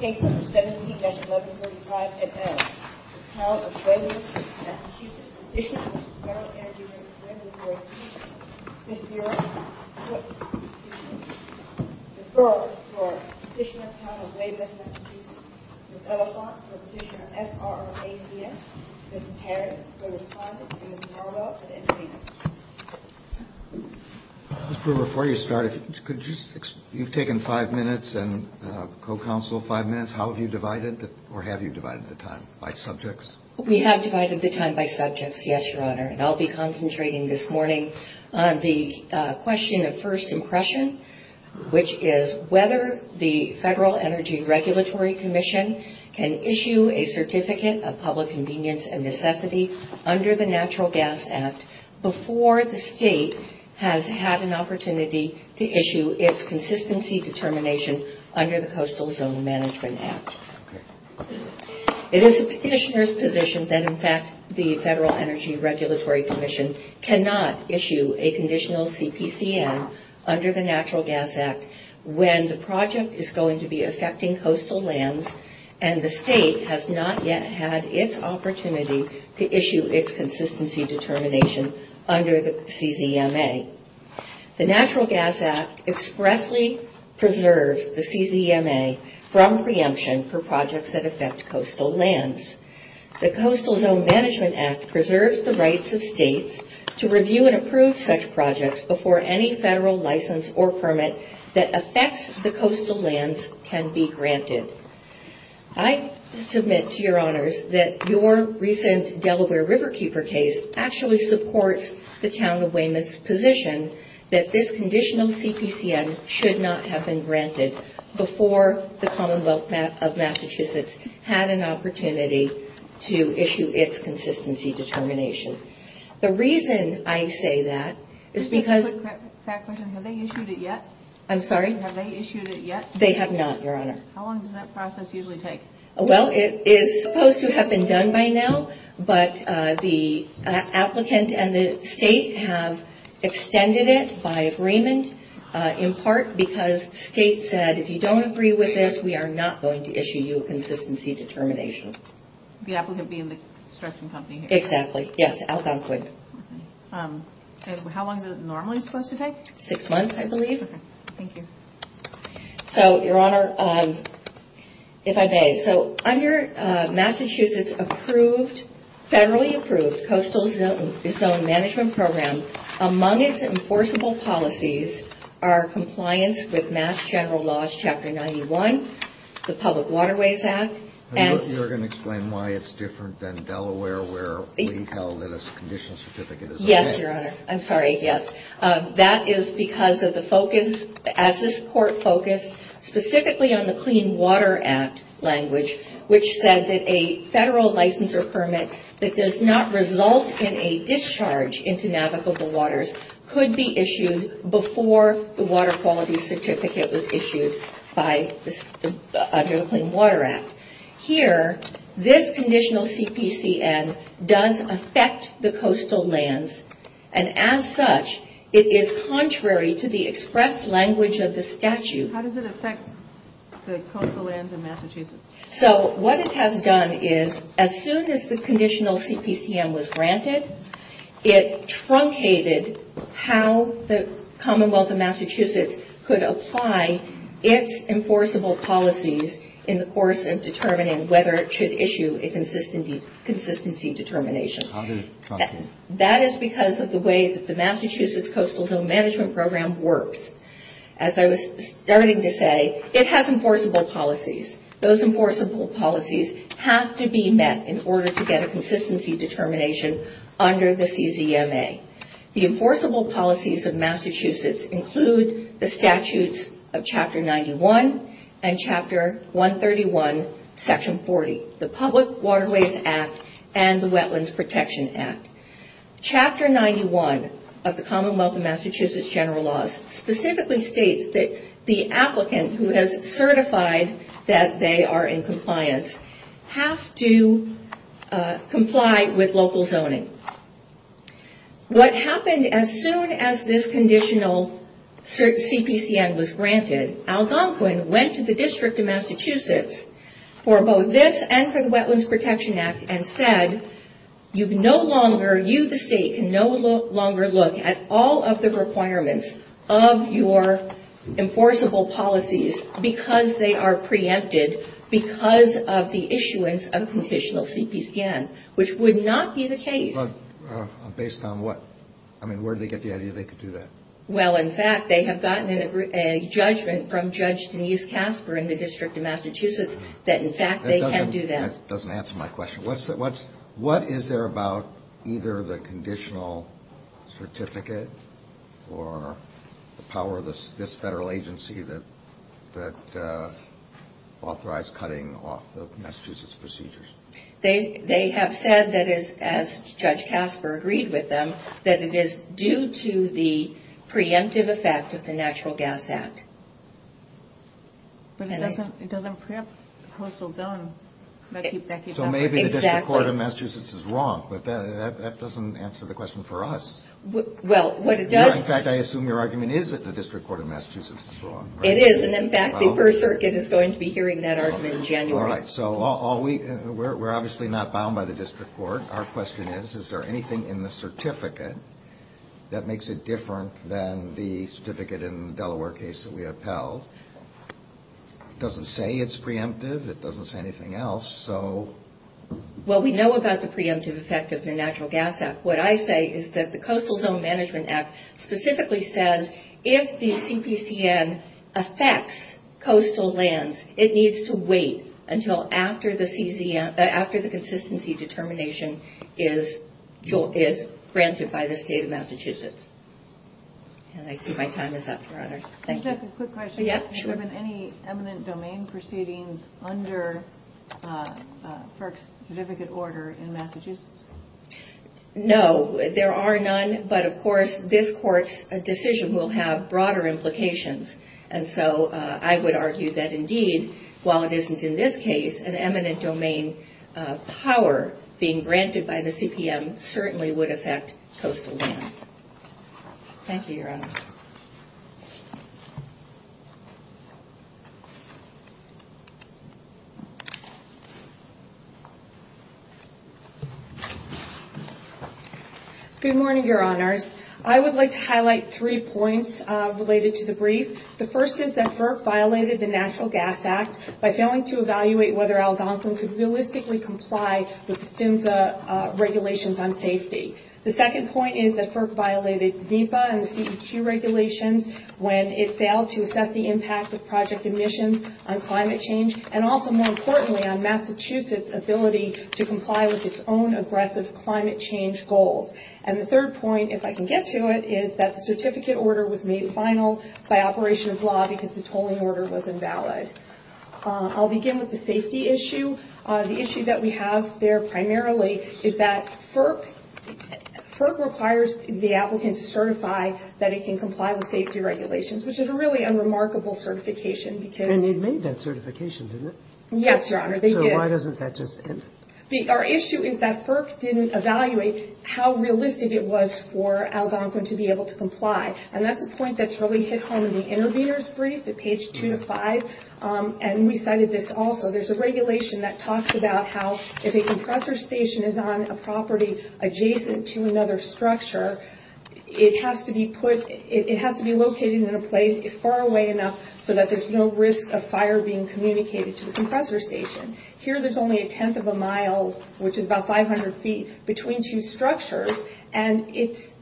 Case No. 17-1135NL. The Town of Weymouth, MA, petitioner for the Federal Energy Regulatory Commission. Ms. Barrett for the petitioner for the Town of Weymouth, MA. Ms. Elephant for the petitioner for the Federal Energy Regulatory Commission. Ms. Barrett for the respondent. Ms. Marlowe for the intervener. Mr. Brewer, before you start, you've taken five minutes and co-counsel five minutes. How have you divided, or have you divided the time by subjects? We have divided the time by subjects, yes, Your Honor, and I'll be concentrating this morning on the question of first impression, which is whether the Federal Energy Regulatory Commission can issue a Certificate of Public Convenience and Necessity under the Natural Gas Act before the State has had an opportunity to issue its consistency determination under the Coastal Zone Management Act. It is the petitioner's position that in fact the Federal Energy Regulatory Commission cannot issue a conditional CPCM under the Natural Gas Act when the project is going to be affecting coastal lands and the State has not yet had its opportunity to issue its consistency determination under the CZMA. The Natural Gas Act expressly preserves the CZMA from preemption for projects that affect coastal lands. The Coastal Zone Management Act preserves the rights of States to review and approve such projects before any Federal license or permit that affects the coastal lands can be granted. I submit to Your Honors that your recent Delaware Riverkeeper case actually supports the Town of Weymouth's position that this conditional CPCM should not have been granted before the Commonwealth of Massachusetts had an opportunity to issue its consistency determination. The reason I say that is because... Can I ask a quick fact question? Have they issued it yet? I'm sorry? Have they issued it yet? They have not, Your Honor. How long does that process usually take? Well, it is supposed to have been done by now, but the applicant and the State have extended it by agreement in part because the State said, if you don't agree with this, we are not going to issue you a consistency determination. The applicant being the construction company here? Exactly. Yes, Algonquin. How long is it normally supposed to take? Six months, I believe. Okay. Thank you. So, Your Honor, if I may, under Massachusetts' federally approved Coastal Zone Management Program, among its enforceable policies are compliance with Mass. General Laws, Chapter 91, the Public Waterways Act, and... You're going to explain why it's different than Delaware, where we held that a conditional certificate is okay? Yes, Your Honor. I'm sorry, yes. That is because of the focus, as this Court focused specifically on the Clean Water Act language, which said that a federal licensure permit that does not result in a discharge into navigable waters could be issued before the water quality certificate was issued under the Clean Water Act. Here, this conditional CPCM does affect the coastal lands, and as such, it is contrary to the express language of the statute. How does it affect the coastal lands of Massachusetts? So, what it has done is, as soon as the conditional CPCM was granted, it truncated how the Commonwealth of Massachusetts could apply its enforceable policies in the course of determining whether it should issue a consistency determination. How did it truncate? That is because of the way that the Massachusetts Coastal Zone Management Program works. As I was starting to say, it has enforceable policies. Those enforceable policies have to be met in order to get a consistency determination under the CZMA. The enforceable policies of Massachusetts include the statutes of Chapter 91 and Chapter 131, Section 40, the Public Waterways Act and the Wetlands Protection Act. Chapter 91 of the Commonwealth of Massachusetts General Laws specifically states that the applicant who has certified that they are in compliance have to comply with local zoning. What happened as soon as this conditional CPCM was granted, Algonquin went to the District of Massachusetts for both this and for the Wetlands Protection Act and said, you the State can no longer look at all of the requirements of your enforceable policies because they are preempted because of the issuance of a conditional CPCM, which would not be the case. Based on what? I mean, where did they get the idea they could do that? Well, in fact, they have gotten a judgment from Judge Denise Casper in the District of Massachusetts that in fact they can do that. That doesn't answer my question. What is there about either the conditional certificate or the power of this federal agency that authorized cutting off the Massachusetts procedures? They have said that, as Judge Casper agreed with them, that it is due to the preemptive effect of the Natural Gas Act. But it doesn't preempt the coastal zone. So maybe the District Court of Massachusetts is wrong, but that doesn't answer the question for us. In fact, I assume your argument is that the District Court of Massachusetts is wrong. It is, and in fact the First Circuit is going to be hearing that argument in January. All right, so we are obviously not bound by the District Court. Our question is, is there anything in the certificate that makes it different than the certificate in the Delaware case that we upheld? It doesn't say it is preemptive. It doesn't say anything else. Well, we know about the preemptive effect of the Natural Gas Act. What I say is that the Coastal Zone Management Act specifically says if the CPCN affects coastal lands, it needs to wait until after the consistency determination is granted by the State of Massachusetts. And I see my time is up, Your Honors. Can I ask a quick question? Yes, sure. Has there been any eminent domain proceedings under FERC's certificate order in Massachusetts? No, there are none, but of course this Court's decision will have broader implications. And so I would argue that indeed, while it isn't in this case, an eminent domain power being granted by the CPM certainly would affect coastal lands. Thank you, Your Honors. Good morning, Your Honors. I would like to highlight three points related to the brief. The first is that FERC violated the Natural Gas Act by failing to evaluate whether Algonquin could realistically comply with the FINSA regulations on safety. The second point is that FERC violated NEPA and the CEQ regulations when it failed to assess the impact of project emissions on climate change, and also, more importantly, on Massachusetts' ability to comply with its own aggressive climate change goals. And the third point, if I can get to it, is that the certificate order was made final by operation of law because the tolling order was invalid. I'll begin with the safety issue. The issue that we have there primarily is that FERC requires the applicant to certify that it can comply with safety regulations, which is a really unremarkable certification because... And they made that certification, didn't they? Yes, Your Honor, they did. So why doesn't that just end it? Our issue is that FERC didn't evaluate how realistic it was for Algonquin to be able to comply, and that's a point that's really hit home in the intervener's brief at page two to five, and we cited this also. There's a regulation that talks about how if a compressor station is on a property adjacent to another structure, it has to be located in a place far away enough so that there's no risk of fire being communicated to the compressor station. Here, there's only a tenth of a mile, which is about 500 feet, between two structures, and it's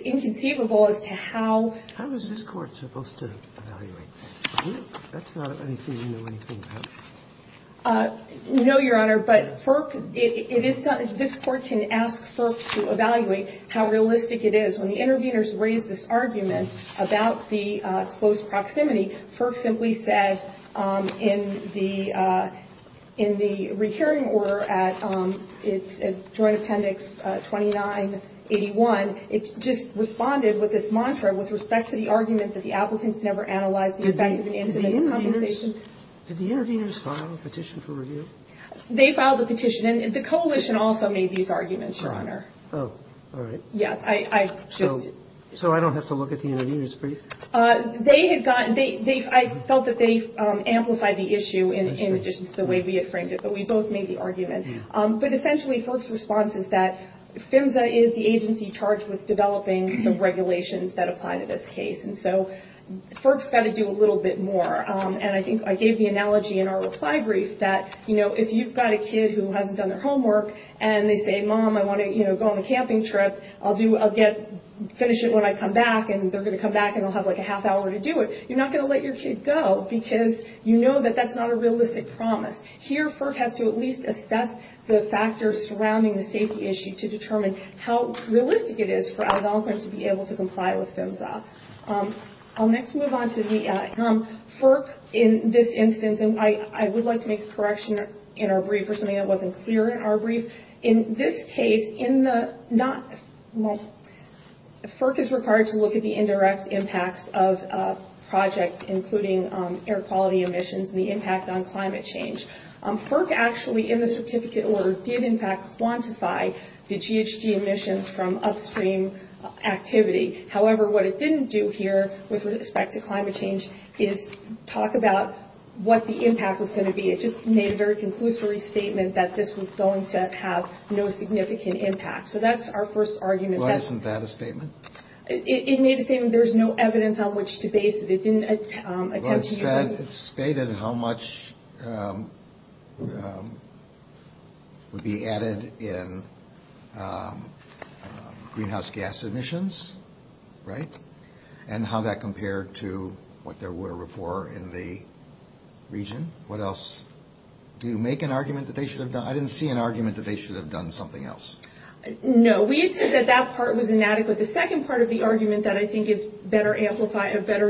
inconceivable as to how... How is this Court supposed to evaluate that? That's not anything we know anything about. No, Your Honor, but FERC, it is something, this Court can ask FERC to evaluate how realistic it is. When the interveners raised this argument about the close proximity, FERC simply said in the recurring order at Joint Appendix 2981, it just responded with this mantra with respect to the argument that the applicants never analyzed the effect of an incident compensation. Did the interveners file a petition for review? They filed a petition, and the coalition also made these arguments, Your Honor. Oh, all right. Yes, I just... So I don't have to look at the intervener's brief? They had gotten... I felt that they amplified the issue in addition to the way we had framed it, but we both made the argument. But essentially, FERC's response is that PHMSA is the agency charged with developing the regulations that apply to this case, and so FERC's got to do a little bit more. And I think I gave the analogy in our reply brief that if you've got a kid who hasn't done their homework, and they say, Mom, I want to go on a camping trip. I'll finish it when I come back, and they're going to come back, and I'll have like a half hour to do it. You're not going to let your kid go, because you know that that's not a realistic promise. Here, FERC has to at least assess the factors surrounding the safety issue to determine how realistic it is for alcohol crimes to be able to comply with PHMSA. I'll next move on to the... FERC, in this instance, and I would like to make a correction in our brief for something that wasn't clear in our brief. In this case, FERC is required to look at the indirect impacts of a project, including air quality emissions and the impact on climate change. FERC actually, in the certificate order, did in fact quantify the GHG emissions from upstream activity. However, what it didn't do here with respect to climate change is talk about what the impact was going to be. It just made a very conclusory statement that this was going to have no significant impact. So that's our first argument. Why isn't that a statement? It made a statement. There's no evidence on which to base it. It didn't attempt to... But it stated how much would be added in greenhouse gas emissions, right? And how that compared to what there were before in the region. What else? Do you make an argument that they should have done... I didn't see an argument that they should have done something else. No. We had said that that part was inadequate. The second part of the argument that I think is better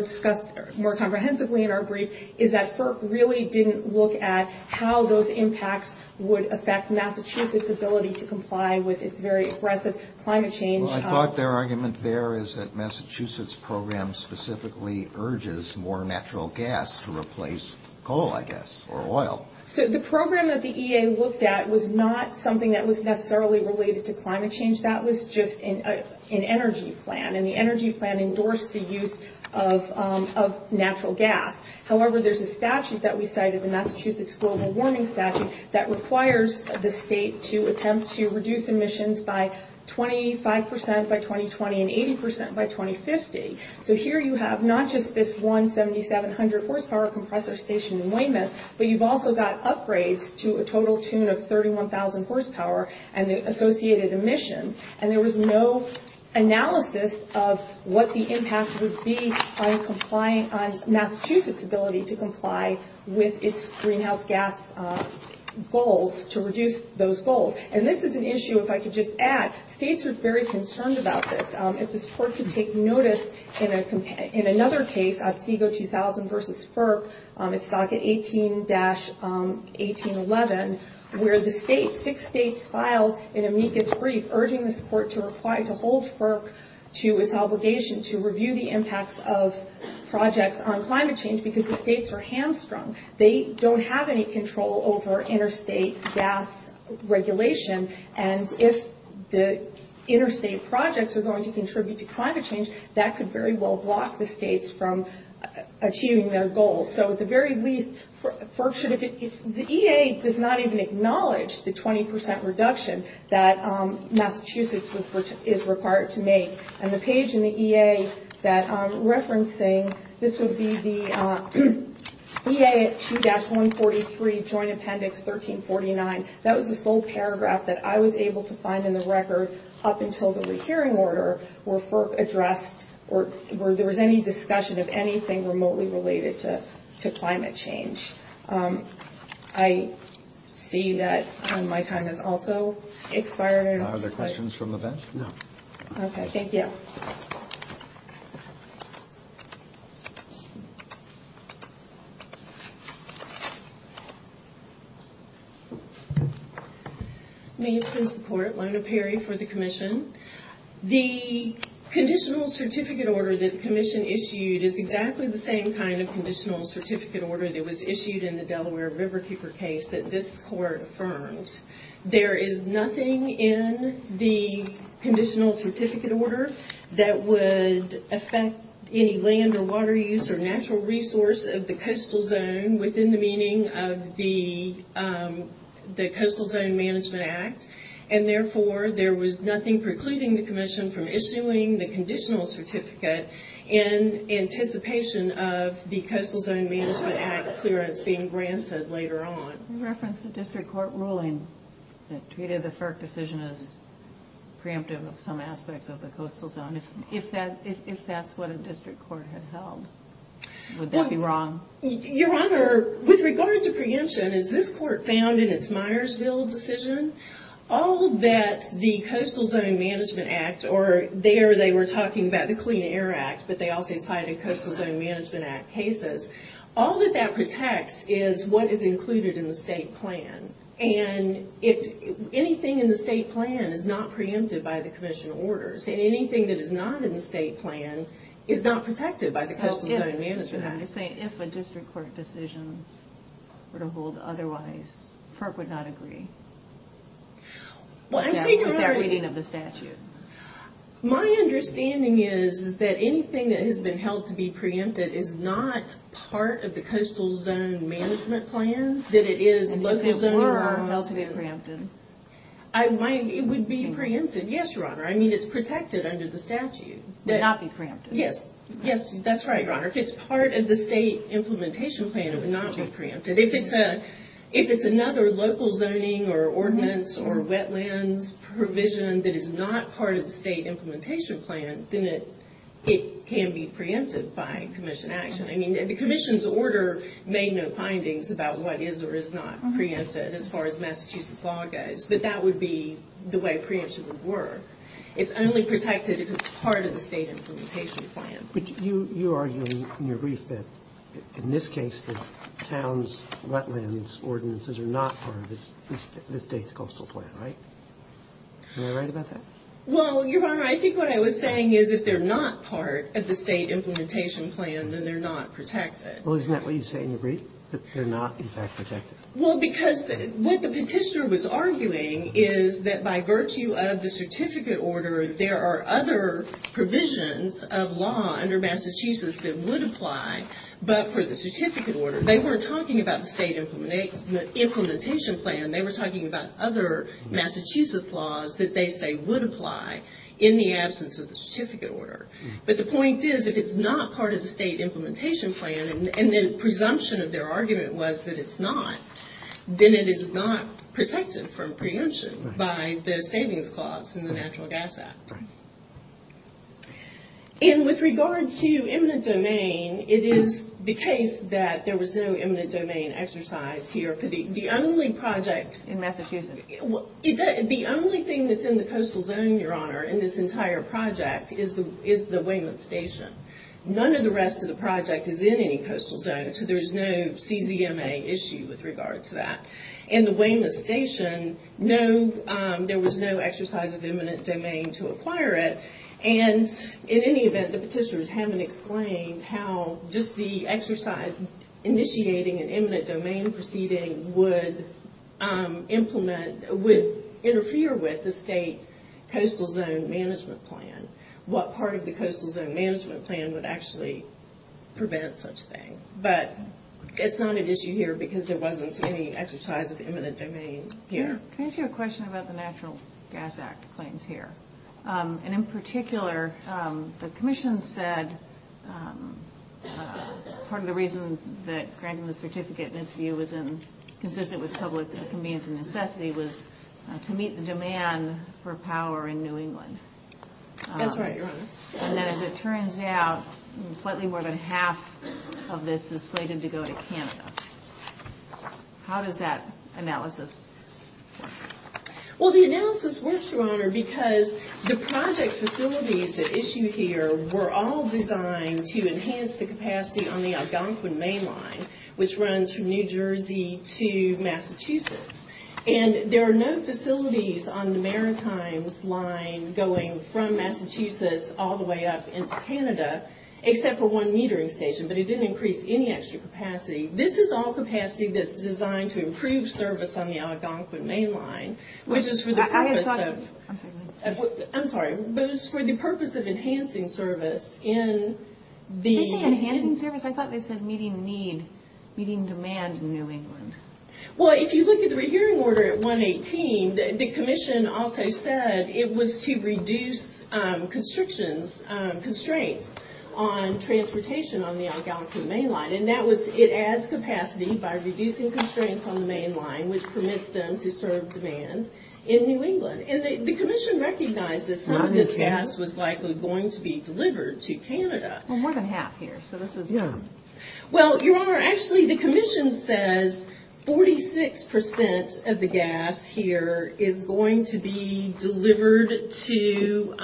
discussed more comprehensively in our brief is that FERC really didn't look at how those impacts would affect Massachusetts' ability to comply with its very aggressive climate change... Well, I thought their argument there is that Massachusetts' program specifically urges more natural gas to replace coal, I guess, or oil. So the program that the EA looked at was not something that was necessarily related to climate change. That was just an energy plan, and the energy plan endorsed the use of natural gas. However, there's a statute that we cited, the Massachusetts Global Warming Statute, that requires the state to attempt to reduce emissions by 25% by 2020 and 80% by 2050. So here you have not just this one 7,700 horsepower compressor stationed in Weymouth, but you've also got upgrades to a total tune of 31,000 horsepower and the associated emissions. And there was no analysis of what the impact would be on Massachusetts' ability to comply with its greenhouse gas goals, to reduce those goals. And this is an issue, if I could just add, states are very concerned about this. If this court could take notice in another case, Otsego 2000 v. FERC, it's docket 18-1811, where the state, six states filed an amicus brief urging this court to hold FERC to its obligation to review the impacts of projects on climate change because the states are hamstrung. They don't have any control over interstate gas regulation, and if the interstate projects are going to contribute to climate change, that could very well block the states from achieving their goals. So at the very least, the EA does not even acknowledge the 20% reduction that Massachusetts is required to make. And the page in the EA that I'm referencing, this would be the EA 2-143 Joint Appendix 1349. That was the sole paragraph that I was able to find in the record up until the rehearing order where FERC addressed or where there was any discussion of anything remotely related to climate change. I see that my time has also expired. Are there questions from the bench? No. Okay, thank you. May it please the Court, Lona Perry for the Commission. The conditional certificate order that the Commission issued is exactly the same kind of conditional certificate order that was issued in the Delaware Riverkeeper case that this Court affirmed. There is nothing in the conditional certificate order that would affect any land or water use or natural resource of the coastal zone within the meaning of the Coastal Zone Management Act. And therefore, there was nothing precluding the Commission from issuing the conditional certificate in anticipation of the Coastal Zone Management Act clearance being granted later on. You referenced a district court ruling that treated the FERC decision as preemptive of some aspects of the coastal zone. If that's what a district court had held, would that be wrong? Your Honor, with regard to preemption, as this Court found in its Myersville decision, all that the Coastal Zone Management Act, or there they were talking about the Clean Air Act, but they also cited Coastal Zone Management Act cases, all that that protects is what is included in the state plan. And if anything in the state plan is not preempted by the Commission orders, and anything that is not in the state plan is not protected by the Coastal Zone Management Act. If a district court decision were to hold otherwise, FERC would not agree? With their reading of the statute? My understanding is that anything that has been held to be preempted is not part of the Coastal Zone Management Plan, that it is local zoning laws. And if it were held to be preempted? It would be preempted, yes, Your Honor. I mean, it's protected under the statute. Would not be preempted? Yes, that's right, Your Honor. If it's part of the state implementation plan, it would not be preempted. If it's another local zoning or ordinance or wetlands provision that is not part of the state implementation plan, then it can be preempted by Commission action. I mean, the Commission's order made no findings about what is or is not preempted as far as Massachusetts law goes, but that would be the way preemption would work. It's only protected if it's part of the state implementation plan. But you argue in your brief that in this case the town's wetlands ordinances are not part of the state's coastal plan, right? Am I right about that? Well, Your Honor, I think what I was saying is if they're not part of the state implementation plan, then they're not protected. Well, isn't that what you say in your brief, that they're not, in fact, protected? Well, because what the petitioner was arguing is that by virtue of the certificate order, there are other provisions of law under Massachusetts that would apply, but for the certificate order. They weren't talking about the state implementation plan. They were talking about other Massachusetts laws that they say would apply in the absence of the certificate order. But the point is if it's not part of the state implementation plan, and the presumption of their argument was that it's not, then it is not protected from preemption by the savings clause in the Natural Gas Act. And with regard to eminent domain, it is the case that there was no eminent domain exercise here for the only project. In Massachusetts? The only thing that's in the coastal zone, Your Honor, in this entire project is the Weymouth Station. None of the rest of the project is in any coastal zone, so there's no CZMA issue with regard to that. In the Weymouth Station, there was no exercise of eminent domain to acquire it, and in any event, the petitioners haven't explained how just the exercise initiating an eminent domain proceeding would interfere with the state coastal zone management plan. What part of the coastal zone management plan would actually prevent such a thing. But it's not an issue here because there wasn't any exercise of eminent domain here. Can I ask you a question about the Natural Gas Act claims here? And in particular, the Commission said part of the reason that granting the certificate, in its view, was consistent with public convenience and necessity was to meet the demand for power in New England. That's right, Your Honor. And as it turns out, slightly more than half of this is slated to go to Canada. How does that analysis work? Well, the analysis works, Your Honor, because the project facilities that issue here were all designed to enhance the capacity on the Algonquin Main Line, which runs from New Jersey to Massachusetts. And there are no facilities on the Maritimes Line going from Massachusetts all the way up into Canada, except for one metering station, but it didn't increase any extra capacity. This is all capacity that's designed to improve service on the Algonquin Main Line, which is for the purpose of... I'm sorry. But it's for the purpose of enhancing service in the... Did they say enhancing service? I thought they said meeting the need, meeting demand in New England. Well, if you look at the rehearing order at 118, the Commission also said it was to reduce constrictions, constraints on transportation on the Algonquin Main Line. And it adds capacity by reducing constraints on the main line, which permits them to serve demand in New England. And the Commission recognized that some of this gas was likely going to be delivered to Canada. Well, more than half here, so this is... Yeah. Well, Your Honor, actually, the Commission says 46% of the gas here is going to be delivered to...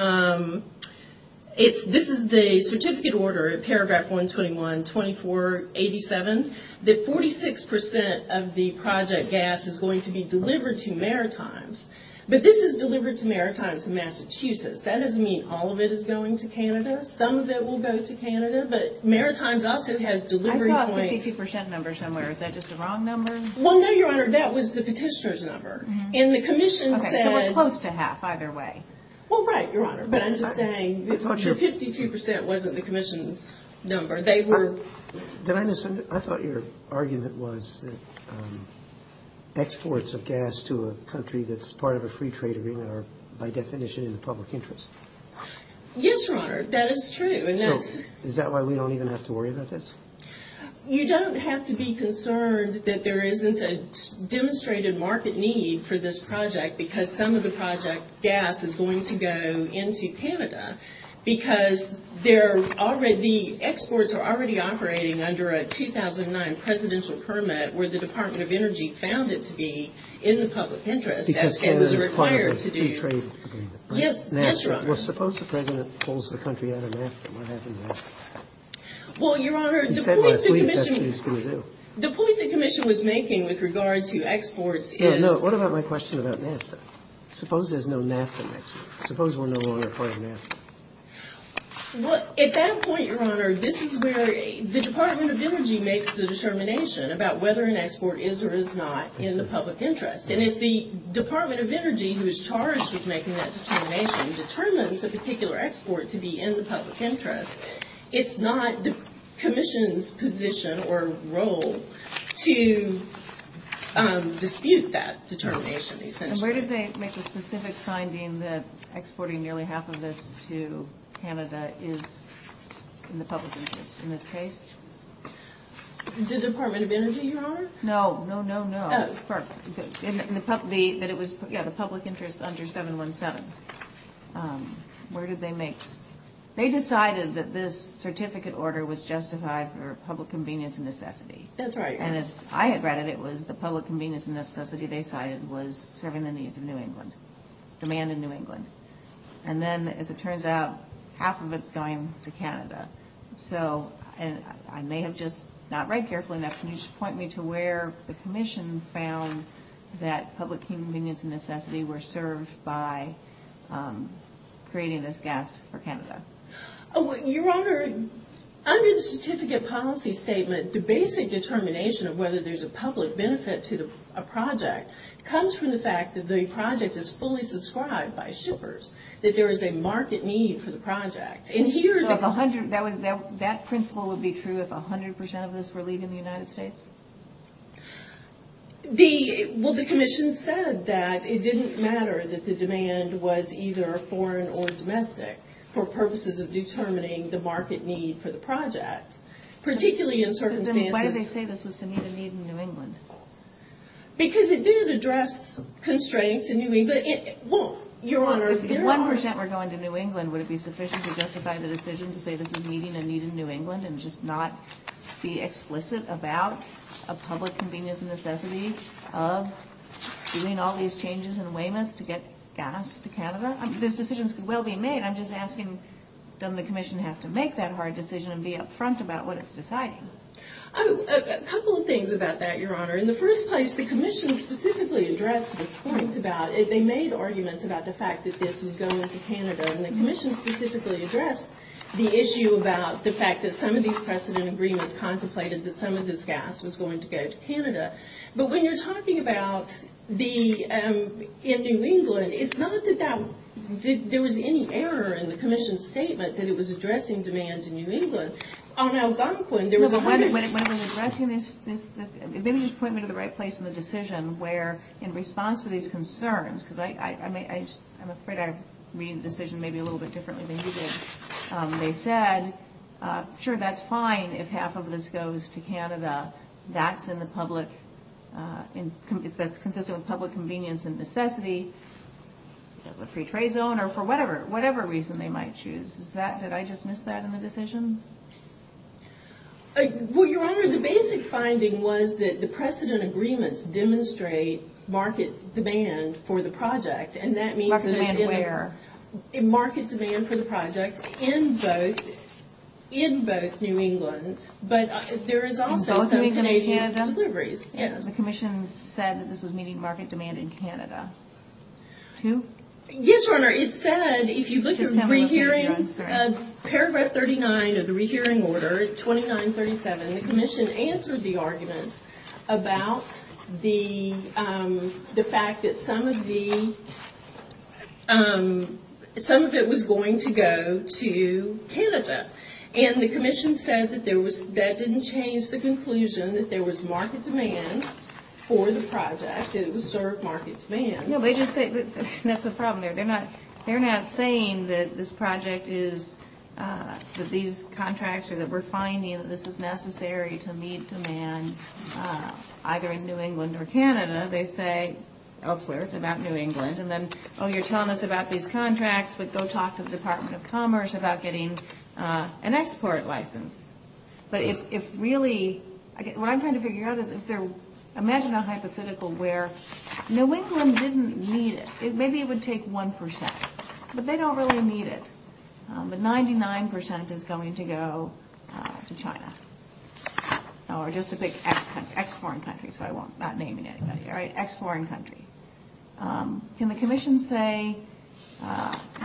This is the certificate order at paragraph 121, 2487, that 46% of the project gas is going to be delivered to Maritimes. But this is delivered to Maritimes in Massachusetts. That doesn't mean all of it is going to Canada. Some of it will go to Canada, but Maritimes also has delivery points. I thought the 50% number somewhere, is that just a wrong number? Well, no, Your Honor, that was the petitioner's number. And the Commission said... Okay, so we're close to half either way. Well, right, Your Honor, but I'm just saying the 52% wasn't the Commission's number. Did I misunderstand? I thought your argument was that exports of gas to a country that's part of a free trade agreement are, by definition, in the public interest. Yes, Your Honor, that is true. So is that why we don't even have to worry about this? You don't have to be concerned that there isn't a demonstrated market need for this project because some of the project gas is going to go into Canada because the exports are already operating under a 2009 presidential permit where the Department of Energy found it to be in the public interest. Because Canada is part of a free trade agreement, right? Yes, Your Honor. Well, suppose the President pulls the country out of NAFTA. What happens then? Well, Your Honor, the point the Commission... He said last week that's what he's going to do. The point the Commission was making with regard to exports is... No, no, what about my question about NAFTA? Suppose there's no NAFTA next year. Suppose we're no longer part of NAFTA. Well, at that point, Your Honor, this is where the Department of Energy makes the determination about whether an export is or is not in the public interest. And if the Department of Energy, who is charged with making that determination, determines a particular export to be in the public interest, it's not the Commission's position or role to dispute that determination, essentially. And where did they make the specific finding that exporting nearly half of this to Canada is in the public interest in this case? The Department of Energy, Your Honor? No, no, no, no. The public interest under 717. Where did they make... They decided that this certificate order was justified for public convenience and necessity. That's right. And as I had read it, it was the public convenience and necessity they cited was serving the needs of New England, demand in New England. And then, as it turns out, half of it's going to Canada. So I may have just not read carefully enough, can you just point me to where the Commission found that public convenience and necessity were served by creating this gas for Canada? Your Honor, under the Certificate Policy Statement, the basic determination of whether there's a public benefit to a project comes from the fact that the project is fully subscribed by shippers, that there is a market need for the project. That principle would be true if 100% of this were leaving the United States? Well, the Commission said that it didn't matter that the demand was either foreign or domestic for purposes of determining the market need for the project, particularly in circumstances... Then why did they say this was to meet a need in New England? Because it did address constraints in New England. Your Honor, if 1% were going to New England, would it be sufficient to justify the decision to say this is meeting a need in New England and just not be explicit about a public convenience and necessity of doing all these changes in Weymouth to get gas to Canada? Those decisions could well be made. I'm just asking, doesn't the Commission have to make that hard decision and be upfront about what it's deciding? A couple of things about that, Your Honor. In the first place, the Commission specifically addressed this point about... They made arguments about the fact that this was going to Canada, and the Commission specifically addressed the issue about the fact that some of these precedent agreements contemplated that some of this gas was going to go to Canada. But when you're talking about in New England, it's not that there was any error in the Commission's statement that it was addressing demand in New England. On Algonquin, there was a... When addressing this, maybe you point me to the right place in the decision where in response to these concerns, because I'm afraid I read the decision maybe a little bit differently than you did. That's in the public... That's consistent with public convenience and necessity, free trade zone, or for whatever reason they might choose. Did I just miss that in the decision? Well, Your Honor, the basic finding was that the precedent agreements demonstrate market demand for the project, and that means that it's in the... Market demand where? Market demand for the project in both New England, but there is also some Canadian deliveries. Both New England and Canada? Yes. The Commission said that this was meeting market demand in Canada. Two? Yes, Your Honor. It said, if you look at re-hearing, paragraph 39 of the re-hearing order, 2937, the Commission answered the arguments about the fact that some of it was going to go to Canada. And the Commission said that that didn't change the conclusion that there was market demand for the project. It was served market demand. No, they just say... That's the problem there. They're not saying that this project is... That these contracts are... That we're finding that this is necessary to meet demand either in New England or Canada. They say elsewhere it's about New England, but go talk to the Department of Commerce about getting an export license. But if really... What I'm trying to figure out is if there... Imagine a hypothetical where New England didn't need it. Maybe it would take 1%, but they don't really need it. But 99% is going to go to China, or just to pick ex-foreign countries, so I'm not naming anybody, all right? Ex-foreign country. Can the Commission say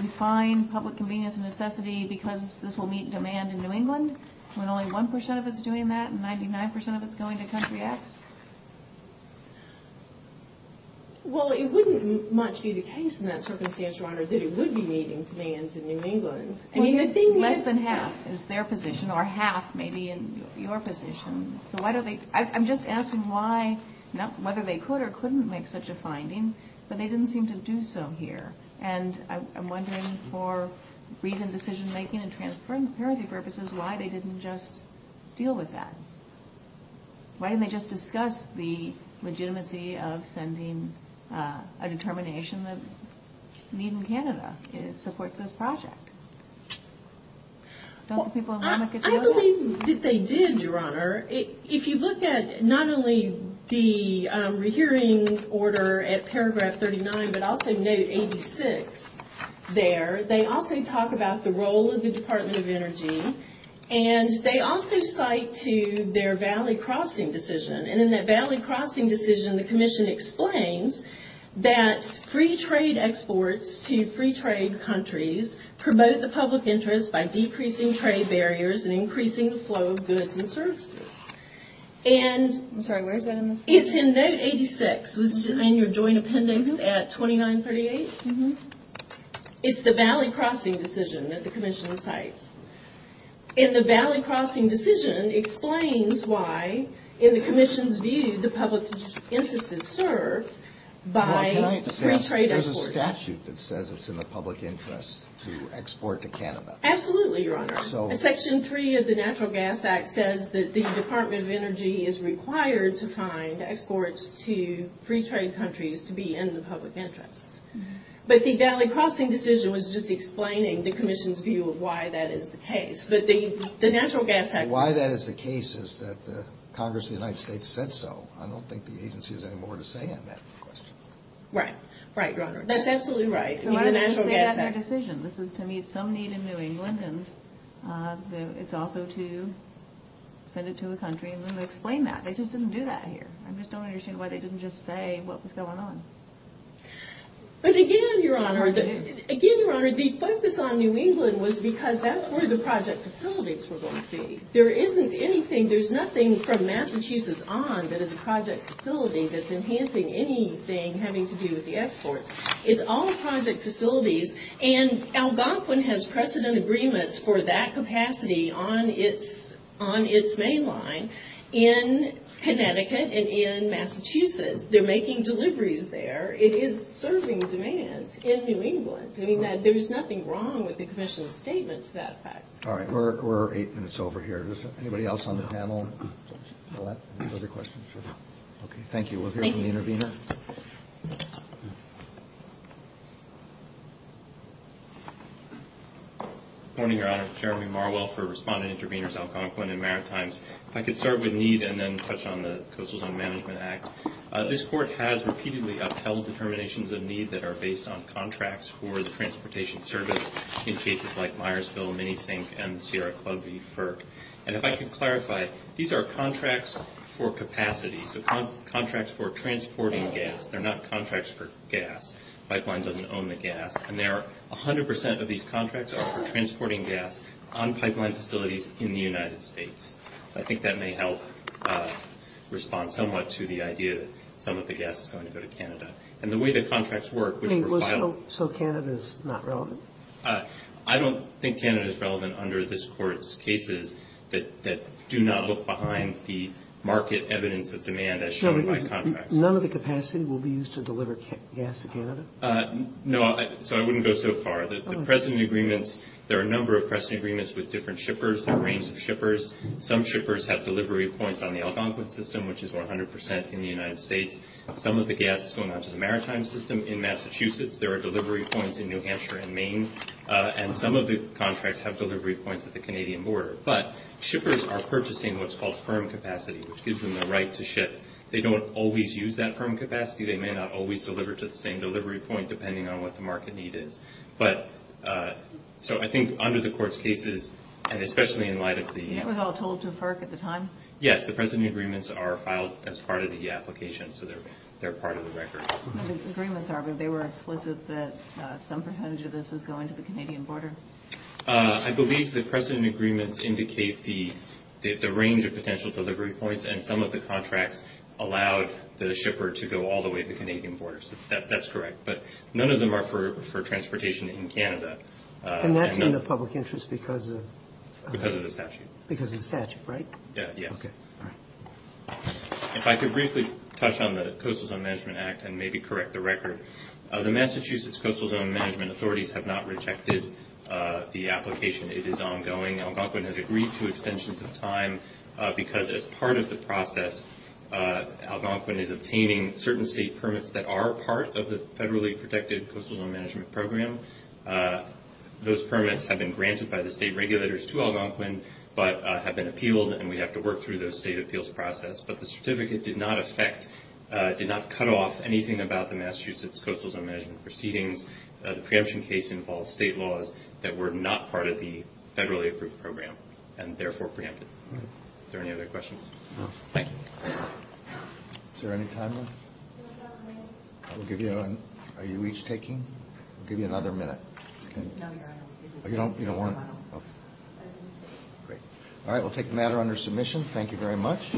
we find public convenience a necessity because this will meet demand in New England when only 1% of it's doing that and 99% of it's going to country X? Well, it wouldn't much be the case in that circumstance, Your Honor, that it would be meeting demand in New England. Less than half is their position, or half may be in your position. I'm just asking why... They could or couldn't make such a finding, but they didn't seem to do so here. And I'm wondering for reason, decision-making, and transparency purposes why they didn't just deal with that. Why didn't they just discuss the legitimacy of sending a determination that need in Canada supports this project? Don't the people in Womack get you on that? I believe that they did, Your Honor. If you look at not only the rehearing order at paragraph 39, but also note 86 there, they also talk about the role of the Department of Energy, and they also cite to their Valley Crossing decision. And in that Valley Crossing decision, the Commission explains that free trade exports to free trade countries promote the public interest by decreasing trade barriers and increasing the flow of goods and services. And... I'm sorry, where is that in this? It's in note 86. Was it in your joint appendix at 2938? Mm-hmm. It's the Valley Crossing decision that the Commission cites. And the Valley Crossing decision explains why, in the Commission's view, the public interest is served by free trade exports. to export to Canada. Absolutely, Your Honor. Section 3 of the Natural Gas Act says that the Department of Energy is required to find exports to free trade countries to be in the public interest. But the Valley Crossing decision was just explaining the Commission's view of why that is the case. But the Natural Gas Act... Why that is the case is that Congress of the United States said so. I don't think the agency has any more to say on that question. Right, right, Your Honor. That's absolutely right. The Natural Gas Act... This is to meet some need in New England. And it's also to send it to a country and then explain that. They just didn't do that here. I just don't understand why they didn't just say what was going on. But again, Your Honor, again, Your Honor, the focus on New England was because that's where the project facilities were going to be. There isn't anything... There's nothing from Massachusetts on that is a project facility that's enhancing anything having to do with the exports. It's all project facilities. And Algonquin has precedent agreements for that capacity on its main line in Connecticut and in Massachusetts. They're making deliveries there. It is serving demands in New England. There's nothing wrong with the Commission's statement to that effect. All right. We're eight minutes over here. Is there anybody else on the panel? Any other questions? Okay, thank you. We'll hear from the intervener. Good morning, Your Honor. Jeremy Marwell for Respondent Interveners Algonquin and Maritimes. If I could start with need and then touch on the Coastal Zone Management Act. This Court has repeatedly upheld determinations of need that are based on contracts for the transportation service in cases like Myersville, Minisink, and Sierra Club v. FERC. And if I could clarify, these are contracts for capacity, so contracts for transporting gas. They're not contracts for gas. Pipeline doesn't own the gas. And 100% of these contracts are for transporting gas on pipeline facilities in the United States. I think that may help respond somewhat to the idea that some of the gas is going to go to Canada. And the way the contracts work, which were filed- So Canada is not relevant? I don't think Canada is relevant under this Court's cases that do not look behind the market evidence of demand as shown by contracts. None of the capacity will be used to deliver gas to Canada? No, so I wouldn't go so far. The precedent agreements, there are a number of precedent agreements with different shippers, a range of shippers. Some shippers have delivery points on the Algonquin system, which is 100% in the United States. Some of the gas is going on to the Maritime system in Massachusetts. There are delivery points in New Hampshire and Maine. And some of the contracts have delivery points at the Canadian border. But shippers are purchasing what's called firm capacity, which gives them the right to ship. They don't always use that firm capacity. They may not always deliver to the same delivery point depending on what the market need is. But, so I think under the Court's cases, and especially in light of the- You were all told to FERC at the time? Yes, the precedent agreements are filed as part of the application. So they're part of the record. The agreements are, but they were explicit that some percentage of this is going to the Canadian border? I believe the precedent agreements indicate the range of potential delivery points and some of the contracts allowed the shipper to go all the way to the Canadian border. So that's correct. But none of them are for transportation in Canada. And that's in the public interest because of- Because of the statute. Because of the statute, right? Yeah, yes. Okay, all right. If I could briefly touch on the Coastal Zone Management Act and maybe correct the record. The Massachusetts Coastal Zone Management authorities have not rejected the application. It is ongoing. Algonquin has agreed to extensions of time because as part of the process, Algonquin is obtaining certain state permits that are part of the federally protected Coastal Zone Management program. Those permits have been granted by the state regulators to Algonquin but have been appealed and we have to work through the state appeals process. But the certificate did not affect- did not cut off anything about the Massachusetts Coastal Zone Management proceedings. The preemption case involved state laws that were not part of the federally approved program and therefore preempted. Is there any other questions? No. Thank you. Is there any time left? Do we have a minute? We'll give you another- Are you each taking? We'll give you another minute. No, you're on. You don't want- I didn't say. Great. All right, we'll take the matter under submission. Thank you very much.